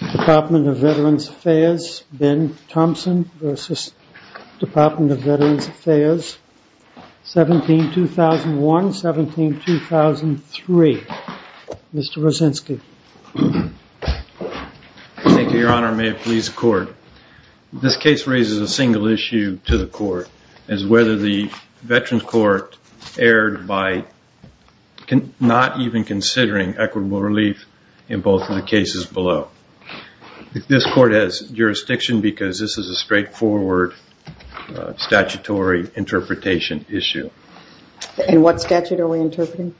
The Department of Veterans Affairs, Ben Thompson v. Department of Veterans Affairs, 17-2001-17-2003. Mr. Rosensky. Thank you, Your Honor. May it please the Court. This case raises a single issue to the Court, as whether the Veterans Court erred by not even considering equitable relief in both of the cases below. This Court has jurisdiction because this is a straightforward statutory interpretation issue. And what statute are we interpreting?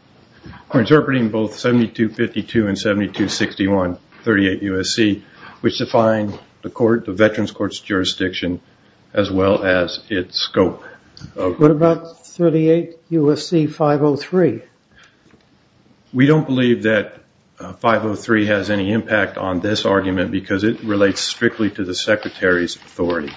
We're interpreting both 7252 and 7261, 38 U.S.C., which define the Veterans Court's jurisdiction as well as its scope. What about 38 U.S.C. 503? We don't believe that 503 has any impact on this argument because it relates strictly to the Secretary's authority.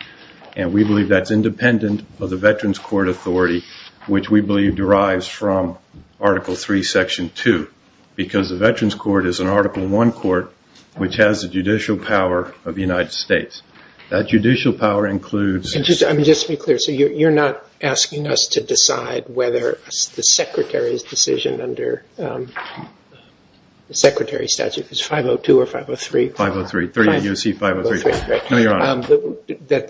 And we believe that's independent of the Veterans Court authority, which we believe derives from Article III, Section 2, because the Veterans Court is an Article I court, which has the judicial power of the United States. That judicial power includes... Just to be clear, so you're not asking us to decide whether the Secretary's decision under the Secretary's statute is 502 or 503? 503. 38 U.S.C. 503. No, Your Honor.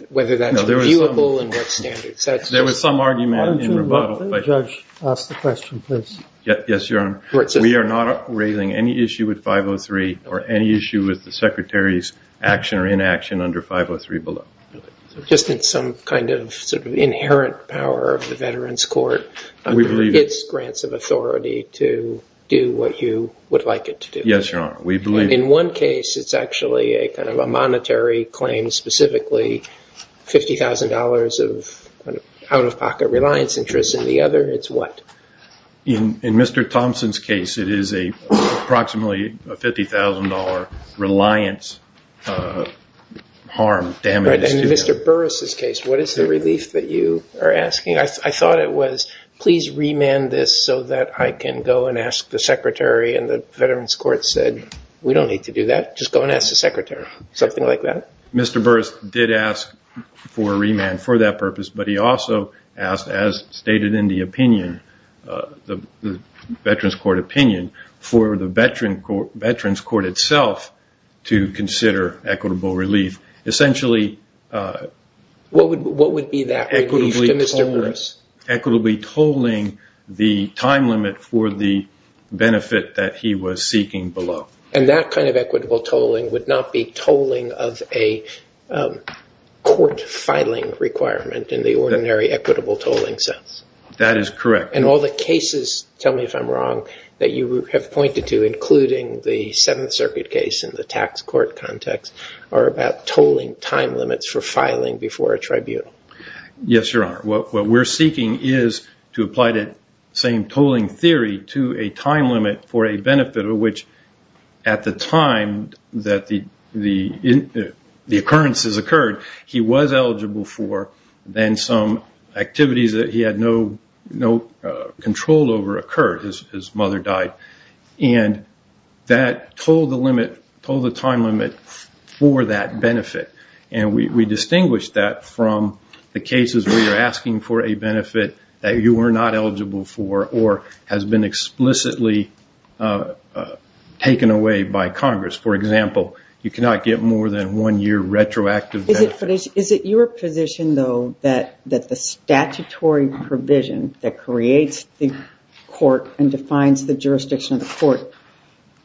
Whether that's viewable and what standards? There was some argument in rebuttal, but... Why don't you let the judge ask the question, please? Yes, Your Honor. We are not raising any issue with 503 or any issue with the Secretary's action or inaction under 503 below. Just in some kind of sort of inherent power of the Veterans Court under its grants of authority to do what you would like it to do? Yes, Your Honor. We believe... In one case, it's actually a kind of a monetary claim, specifically $50,000 of out-of-pocket reliance interest. In the other, it's what? In Mr. Thompson's case, it is approximately a $50,000 reliance harm, damage to... Right. In Mr. Burris' case, what is the relief that you are asking? I thought it was, please remand this so that I can go and ask the Secretary and the Veterans Court said, we don't need to do that. Just go and ask the Secretary. Something like that? Mr. Burris did ask for a remand for that purpose, but he also asked, as stated in the opinion, the Veterans Court opinion, for the Veterans Court itself to consider equitable relief. Essentially... What would be that relief to Mr. Burris? Equitably tolling the time limit for the benefit that he was seeking below. That kind of equitable tolling would not be tolling of a court filing requirement in the ordinary equitable tolling sense? That is correct. All the cases, tell me if I'm wrong, that you have pointed to, including the Seventh Circuit case and the tax court context, are about tolling time limits for filing before a tribunal. Yes, Your Honor. What we're seeking is to apply the same tolling theory to a time limit for a benefit of which, at the time that the occurrences occurred, he was eligible for, then some activities that he had no control over occurred. His mother died. That tolled the time limit for that benefit. We distinguish that from the cases where you're asking for a benefit that you were not eligible for or has been explicitly taken away by Congress. For example, you cannot get more than one year retroactive benefit. Is it your position, though, that the statutory provision that creates the court and defines the jurisdiction of the court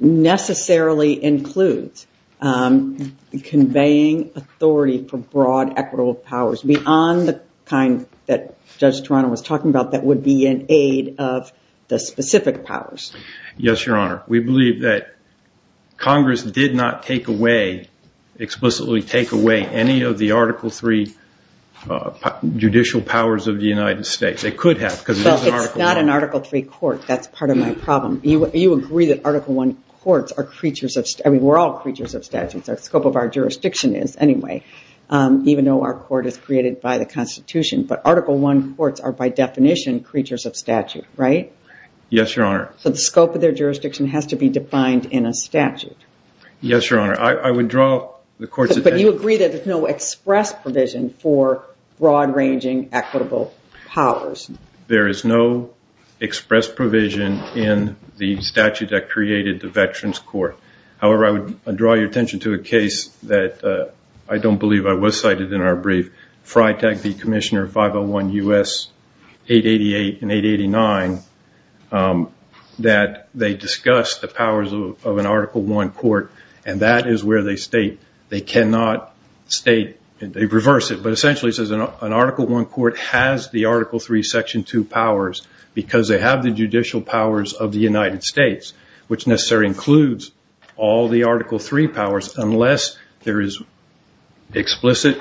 necessarily includes conveying authority for broad equitable powers beyond the kind that Judge Toronto was talking about that would be an aid of the specific powers? Yes, Your Honor. We believe that Congress did not take away, explicitly take away, any of the Article III judicial powers of the United States. They could have because it's an Article III. That's part of my problem. You agree that Article I courts are creatures of, I mean, we're all creatures of statutes. The scope of our jurisdiction is anyway, even though our court is created by the Constitution. But Article I courts are, by definition, creatures of statute, right? Yes, Your Honor. So, the scope of their jurisdiction has to be defined in a statute. Yes, Your Honor. I would draw the court's attention. But you agree that there's no express provision for broad ranging equitable powers. There is no express provision in the statute that created the Veterans Court. However, I would draw your attention to a case that I don't believe I was cited in our brief, Freitag v. Commissioner 501 U.S. 888 and 889, that they discussed the powers of an Article I court. And that is where they state they cannot state, they reverse it, but essentially it says an Article III, Section 2 powers, because they have the judicial powers of the United States, which necessarily includes all the Article III powers, unless there is explicit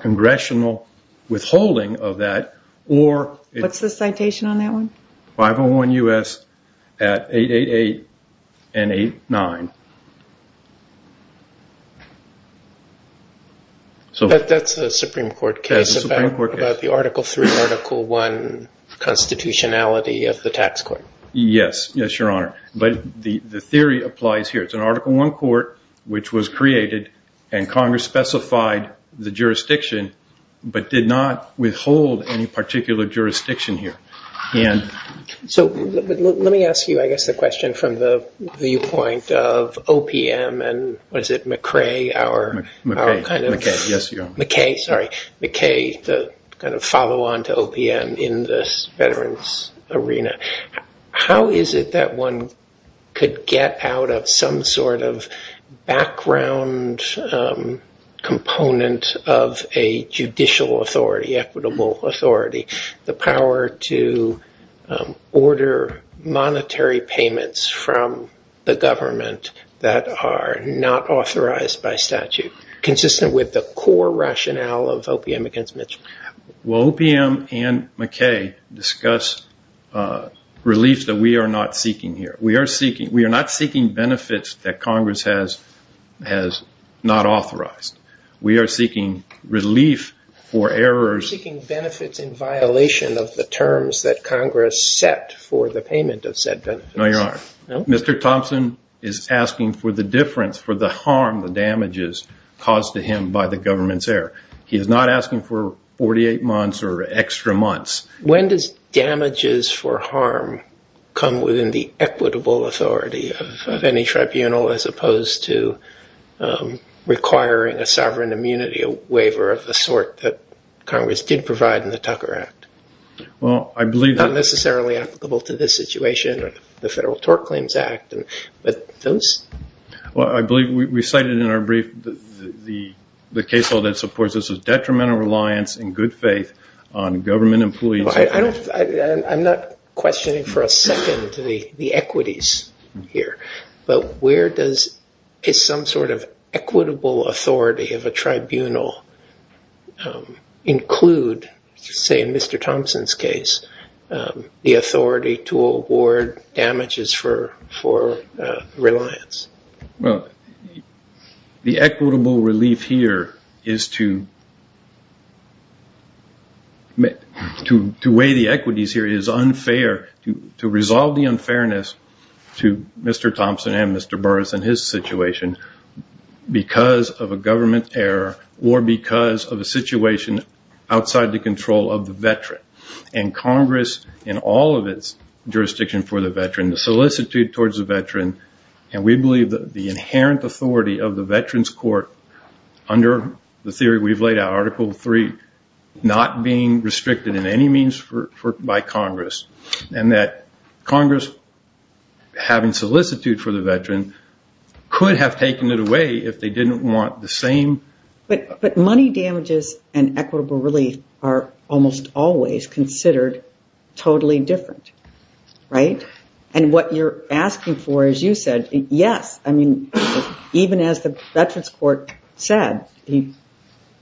congressional withholding of that, or... What's the citation on that one? 501 U.S. at 888 and 889. But that's a Supreme Court case about the Article III, Article I constitutionality of the tax court. Yes. Yes, Your Honor. But the theory applies here. It's an Article I court, which was created, and Congress specified the jurisdiction, but did not withhold any particular jurisdiction here. So, let me ask you, I guess, the question from the viewpoint of OPM, and was it McRae, our... McKay. McKay. Yes, Your Honor. McKay. Sorry. McKay, the kind of follow-on to OPM in this veterans arena. How is it that one could get out of some sort of background component of a judicial authority, the equitable authority, the power to order monetary payments from the government that are not authorized by statute, consistent with the core rationale of OPM against Mitch? Well, OPM and McKay discuss relief that we are not seeking here. We are seeking... We are not seeking benefits that Congress has not authorized. We are seeking relief for errors... We're seeking benefits in violation of the terms that Congress set for the payment of said benefits. No, Your Honor. No? Mr. Thompson is asking for the difference, for the harm, the damages caused to him by the government's error. He is not asking for 48 months or extra months. When does damages for harm come within the equitable authority of any tribunal, as opposed to requiring a sovereign immunity waiver of the sort that Congress did provide in the Tucker Act? Well, I believe... Not necessarily applicable to this situation, the Federal Tort Claims Act, but those... Well, I believe we cited in our brief the case law that supports this as detrimental reliance in good faith on government employees... I'm not questioning for a second the equities here, but where does some sort of equitable authority of a tribunal include, say in Mr. Thompson's case, the authority to award damages for reliance? Well, the equitable relief here is to weigh the equities here is unfair, to resolve the unfairness to Mr. Thompson and Mr. Burris and his situation because of a government error or because of a situation outside the control of the veteran. And Congress, in all of its jurisdiction for the veteran, the solicitude towards the veteran, and we believe that the inherent authority of the veteran's court under the theory we've laid out, Article III, not being restricted in any means by Congress, and that Congress, having solicitude for the veteran, could have taken it away if they didn't want the same... But money damages and equitable relief are almost always considered totally different, right? And what you're asking for, as you said, yes, even as the veteran's court said, he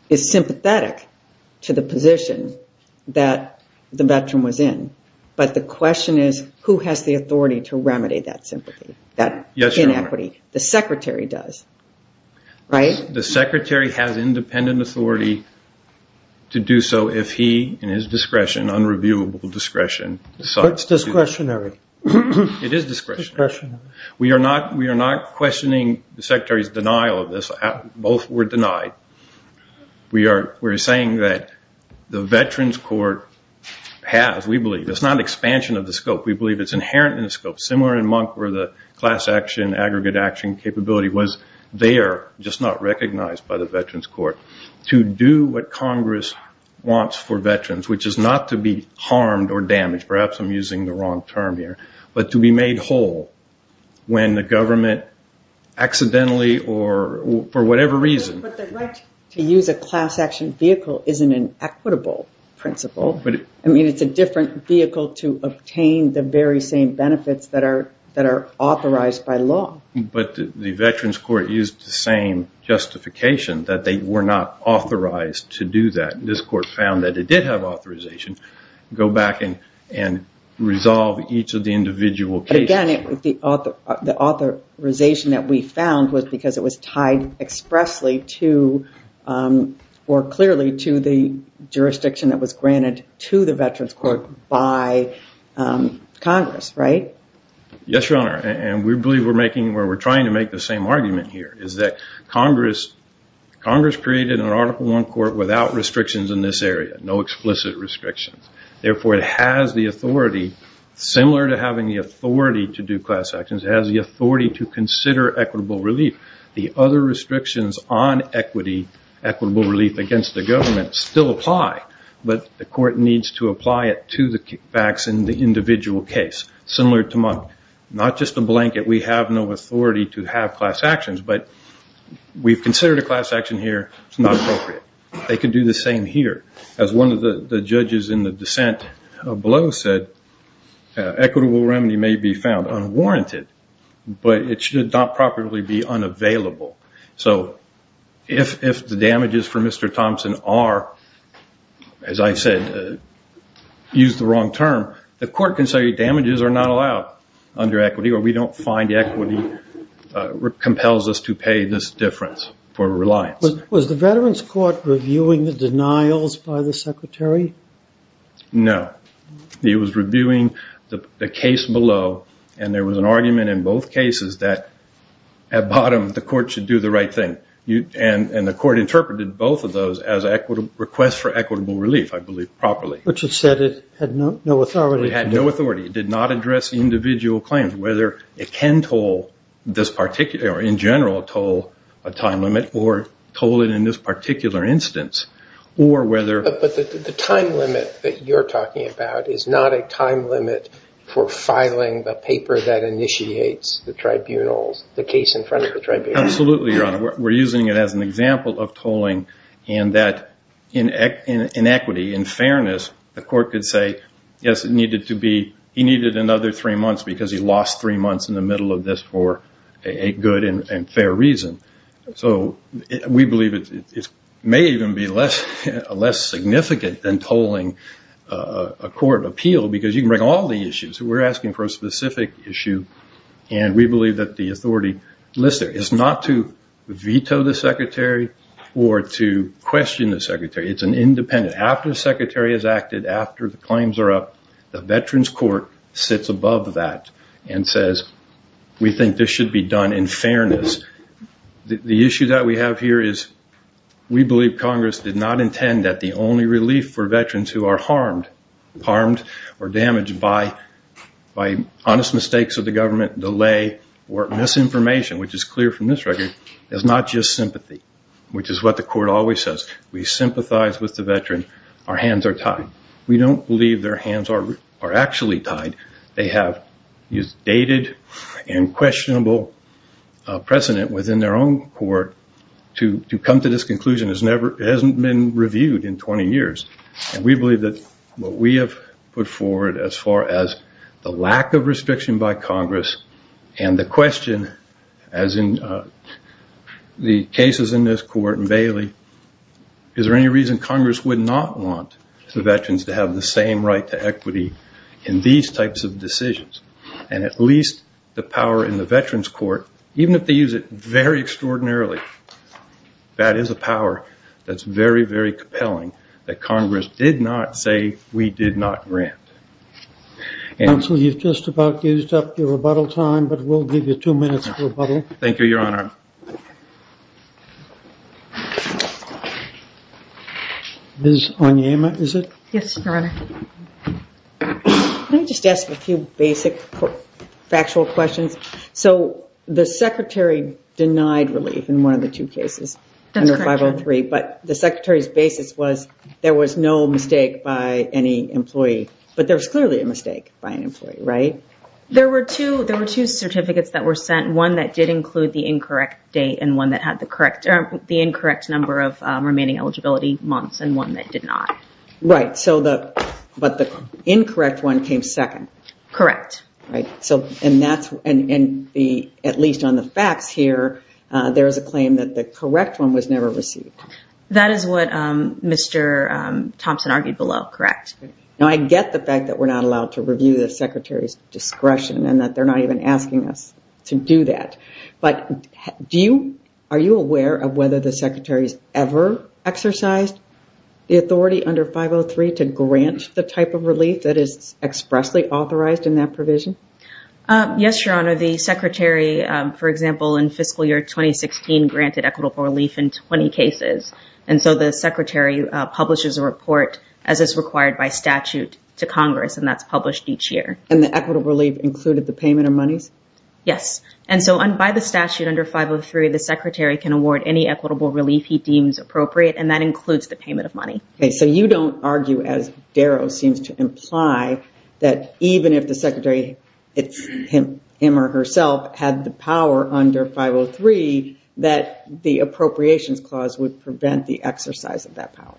is sympathetic to the position that the veteran was in. But the question is, who has the authority to remedy that sympathy, that inequity? The secretary does, right? The secretary has independent authority to do so if he, in his discretion, unreviewable discretion... That's discretionary. It is discretionary. We are not questioning the secretary's denial of this. Both were denied. We are saying that the veteran's court has, we believe, it's not expansion of the scope, we believe it's inherent in the scope, similar in Monk where the class action, aggregate action capability was there, just not recognized by the veteran's court, to do what Congress wants for veterans, which is not to be harmed or damaged, perhaps I'm using the wrong term here, but to be made whole when the government accidentally or for whatever reason... But the right to use a class action vehicle isn't an equitable principle. I mean, it's a different vehicle to obtain the very same benefits that are authorized by law. But the veteran's court used the same justification, that they were not authorized to do that. And this court found that it did have authorization, go back and resolve each of the individual cases. Again, the authorization that we found was because it was tied expressly to, or clearly to the jurisdiction that was granted to the veteran's court by Congress, right? Yes, Your Honor. And we believe we're making, or we're trying to make the same argument here, is that Congress created an Article I court without restrictions in this area, no explicit restrictions. Therefore it has the authority, similar to having the authority to do class actions, it has the authority to consider equitable relief. The other restrictions on equity, equitable relief against the government, still apply, but the court needs to apply it to the facts in the individual case, similar to Monk. Not just a blanket, we have no authority to have class actions, but we've considered a class action here, it's not appropriate. They can do the same here. As one of the judges in the dissent below said, equitable remedy may be found unwarranted, but it should not properly be unavailable. So if the damages for Mr. Thompson are, as I said, used the wrong term, the court can say damages are not allowed under equity, or we don't find equity compels us to pay this difference for reliance. Was the Veterans Court reviewing the denials by the Secretary? No. It was reviewing the case below, and there was an argument in both cases that at bottom the court should do the right thing, and the court interpreted both of those as requests for equitable relief, I believe, properly. Which it said it had no authority to do. It had no authority. It did not address individual claims, whether it can toll, in general, a time limit, or toll it in this particular instance. Or whether... But the time limit that you're talking about is not a time limit for filing the paper that initiates the case in front of the tribunal. Absolutely, Your Honor. We're using it as an example of tolling, and that in equity, in fairness, the court could say, yes, it needed to be... He needed another three months because he lost three months in the middle of this for a good and fair reason. We believe it may even be less significant than tolling a court appeal because you can bring all the issues. We're asking for a specific issue, and we believe that the authority listed is not to veto the Secretary or to question the Secretary. It's an independent... After the Secretary has acted, after the claims are up, the Veterans Court sits above that and says, we think this should be done in fairness. The issue that we have here is we believe Congress did not intend that the only relief for veterans who are harmed or damaged by honest mistakes of the government, delay, or misinformation, which is clear from this record, is not just sympathy, which is what the court always says. We sympathize with the veteran. Our hands are tied. We don't believe their hands are actually tied. They have dated and questionable precedent within their own court to come to this conclusion has never... It hasn't been reviewed in 20 years. We believe that what we have put forward as far as the lack of restriction by Congress and the question, as in the cases in this court and Bailey, is there any reason Congress would not want the veterans to have the same right to equity in these types of decisions? At least the power in the Veterans Court, even if they use it very extraordinarily, that is a power that's very, very compelling that Congress did not say we did not grant. Counsel, you've just about used up your rebuttal time, but we'll give you two minutes to rebuttal. Thank you, Your Honor. Ms. Onyema, is it? Yes, Your Honor. Can I just ask a few basic factual questions? So, the Secretary denied relief in one of the two cases under 503, but the Secretary's a little mistake by any employee, but there's clearly a mistake by an employee, right? There were two certificates that were sent, one that did include the incorrect date and the incorrect number of remaining eligibility months and one that did not. Right, but the incorrect one came second. Correct. At least on the facts here, there is a claim that the correct one was never received. That is what Mr. Thompson argued below, correct? Now, I get the fact that we're not allowed to review the Secretary's discretion and that they're not even asking us to do that, but are you aware of whether the Secretary's ever exercised the authority under 503 to grant the type of relief that is expressly authorized in that provision? Yes, Your Honor. The Secretary, for example, in fiscal year 2016, granted equitable relief in 20 cases, and so the Secretary publishes a report as is required by statute to Congress, and that's published each year. And the equitable relief included the payment of monies? Yes, and so by the statute under 503, the Secretary can award any equitable relief he deems appropriate, and that includes the payment of money. Okay, so you don't argue, as Darrow seems to imply, that even if the Secretary, him or herself, had the power under 503, that the Appropriations Clause would prevent the exercise of that power?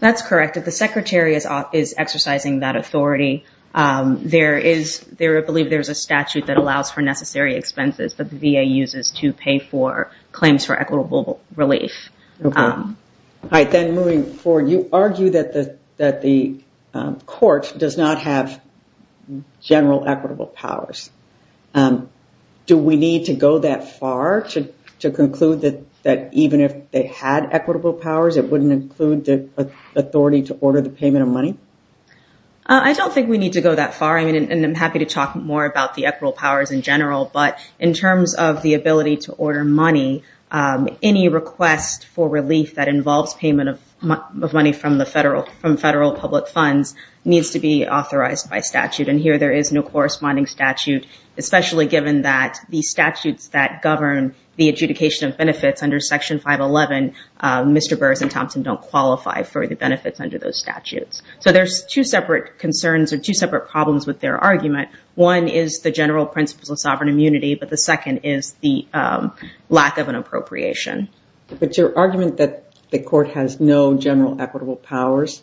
That's correct. If the Secretary is exercising that authority, I believe there's a statute that allows for necessary expenses that the VA uses to pay for claims for equitable relief. Okay. All right, then moving forward, you argue that the court does not have general equitable powers. Do we need to go that far to conclude that even if they had equitable powers, it wouldn't include the authority to order the payment of money? I don't think we need to go that far, and I'm happy to talk more about the equitable powers in general, but in terms of the ability to order money, any request for relief that involves payment of money from federal public funds needs to be authorized by statute, and here there is no corresponding statute, especially given that the statutes that govern the adjudication of benefits under Section 511, Mr. Burrs and Thompson don't qualify for the benefits under those statutes. So there's two separate concerns or two separate problems with their argument. One is the general principles of sovereign immunity, but the second is the lack of an appropriation. But your argument that the court has no general equitable powers,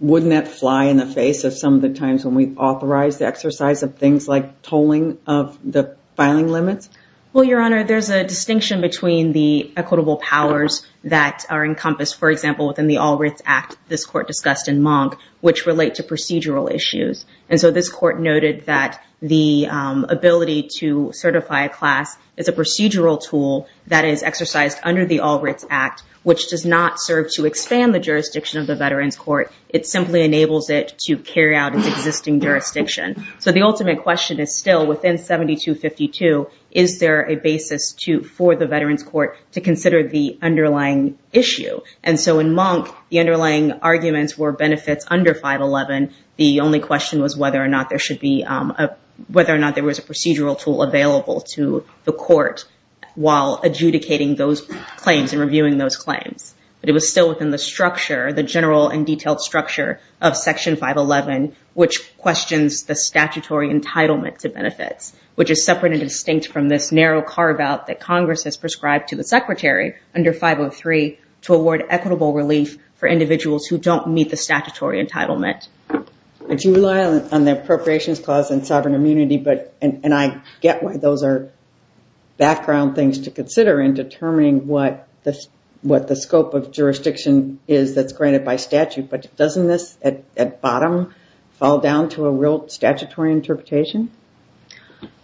wouldn't that fly in the face of some of the times when we authorize the exercise of things like tolling of the filing limits? Well, Your Honor, there's a distinction between the equitable powers that are encompassed, for example, within the All Rights Act, this court discussed in Monk, which relate to procedural issues. And so this court noted that the ability to certify a class is a procedural tool that is exercised under the All Rights Act, which does not serve to expand the jurisdiction of the Veterans Court. It simply enables it to carry out its existing jurisdiction. So the ultimate question is still within 7252, is there a basis for the Veterans Court to consider the underlying issue? And so in Monk, the underlying arguments were benefits under 511. The only question was whether or not there should be, whether or not there was a procedural tool available to the court while adjudicating those claims and reviewing those claims. But it was still within the structure, the general and detailed structure of Section 511, which questions the statutory entitlement to benefits, which is separate and distinct from this narrow carve out that Congress has prescribed to the secretary under 503 to award equitable relief for individuals who don't meet the statutory entitlement. I do rely on the Appropriations Clause and Sovereign Immunity, but, and I get why those are background things to consider in determining what the scope of jurisdiction is that's granted by statute, but doesn't this at bottom fall down to a real statutory interpretation?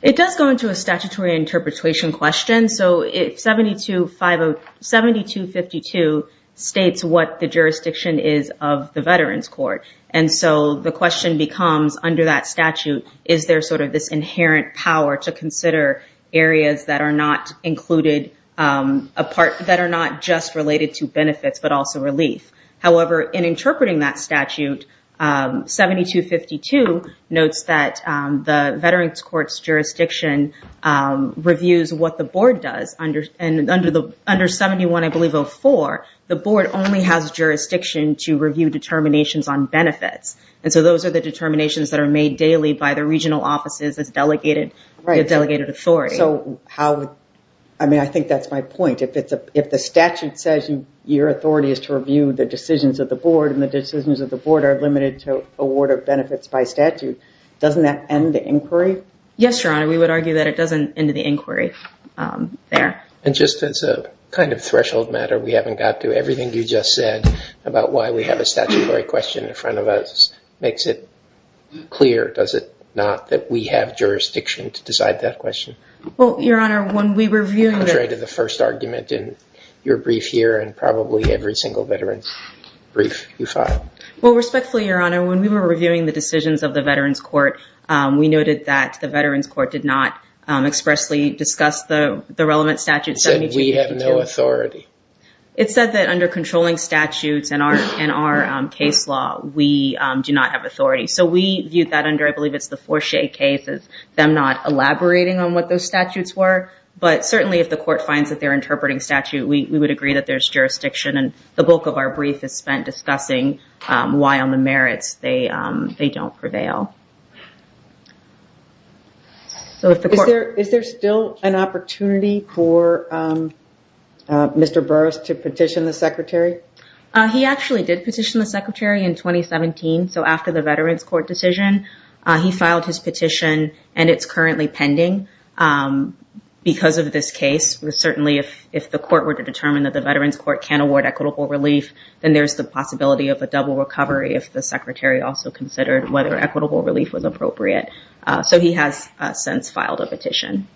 It does go into a statutory interpretation question. So 7252 states what the jurisdiction is of the Veterans Court. And so the question becomes under that statute, is there sort of this inherent power to consider areas that are not included apart, that are not just related to benefits, but also relief. However, in interpreting that statute, 7252 notes that the Veterans Court's jurisdiction reviews what the board does. And under 71, I believe 04, the board only has jurisdiction to review determinations on benefits. And so those are the determinations that are made daily by the regional offices as delegated authority. So how, I mean, I think that's my point. If the statute says your authority is to review the decisions of the board and the decisions of the board are limited to award of benefits by statute, doesn't that end the inquiry? Yes, Your Honor. We would argue that it doesn't end the inquiry there. And just as a kind of threshold matter we haven't got to, everything you just said about why we have a statutory question in front of us makes it clear, does it not, that we have jurisdiction to decide that question? Well, Your Honor, when we were reviewing the... Contrary to the first argument in your brief here and probably every single Veterans brief you filed. Well, respectfully, Your Honor, when we were reviewing the decisions of the Veterans Court, we noted that the Veterans Court did not expressly discuss the relevant statutes. It said we have no authority. It said that under controlling statutes and our case law, we do not have authority. So we viewed that under, I believe it's the Forshea case, them not elaborating on what those statutes were. But certainly if the court finds that they're interpreting statute, we would agree that there's jurisdiction. And the bulk of our brief is spent discussing why on the merits they don't prevail. So if the court... Is there still an opportunity for Mr. Burris to petition the secretary? He actually did petition the secretary in 2017. So after the Veterans Court decision, he filed his petition and it's currently pending because of this case. Certainly, if the court were to determine that the Veterans Court can't award equitable relief, then there's the possibility of a double recovery if the secretary also considered whether equitable relief was appropriate. So he has since filed a petition.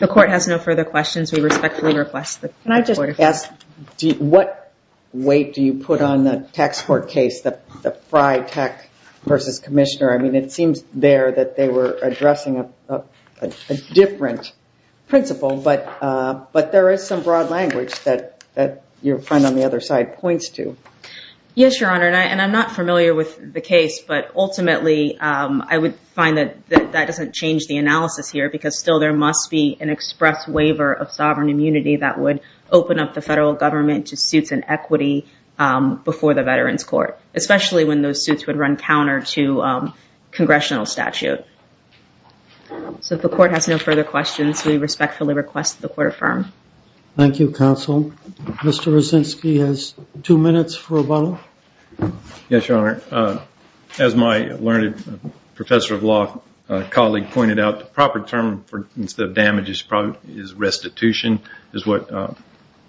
The court has no further questions. We respectfully request the court... Can I just ask, what weight do you put on the tax court case, the Frye Tech versus Commissioner? I mean, it seems there that they were addressing a different principle, but there is some broad language that your friend on the other side points to. Yes, Your Honor. And I'm not familiar with the case, but ultimately, I would find that that doesn't change the analysis here because still there must be an express waiver of sovereign immunity that would open up the federal government to suits and equity before the Veterans Court, especially when those suits would run counter to congressional statute. So if the court has no further questions, we respectfully request the court affirm. Thank you, counsel. Mr. Rosinsky has two minutes for a follow-up. Yes, Your Honor. As my learned professor of law colleague pointed out, the proper term instead of damage is probably restitution, is what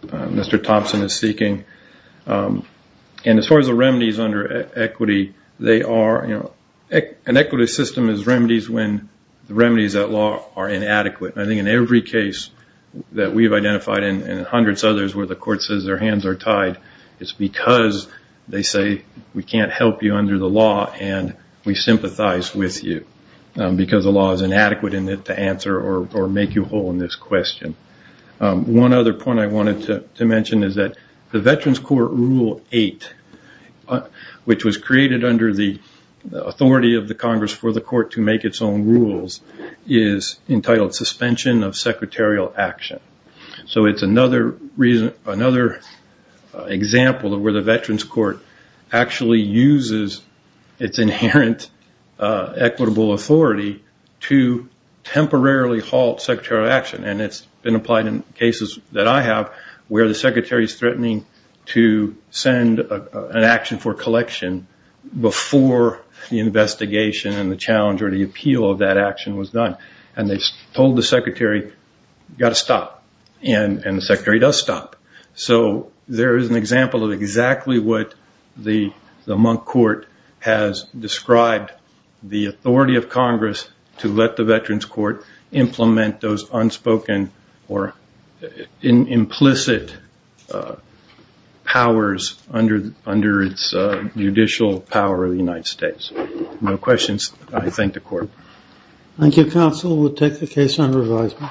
Mr. Thompson is seeking. And as far as the remedies under equity, they are... An equity system is remedies when the remedies at law are inadequate. I think in every case that we've identified and hundreds others where the court says their hands are tied, it's because they say we can't help you under the law and we sympathize with you because the law is inadequate in it to answer or make you whole in this question. One other point I wanted to mention is that the Veterans Court Rule 8, which was created under the authority of the Congress for the court to make its own rules, is entitled suspension of secretarial action. So it's another reason, another example of where the Veterans Court actually uses its inherent equitable authority to temporarily halt secretarial action. And it's been applied in cases that I have where the secretary is threatening to send an action for collection before the investigation and the challenge or the appeal of that action was done. And they told the secretary, you've got to stop. And the secretary does stop. So there is an example of exactly what the Monk Court has described the authority of Congress to let the Veterans Court implement those unspoken or implicit powers under its judicial power of the United States. No questions. I thank the court. Thank you, Counsel. We'll take the case under revisal.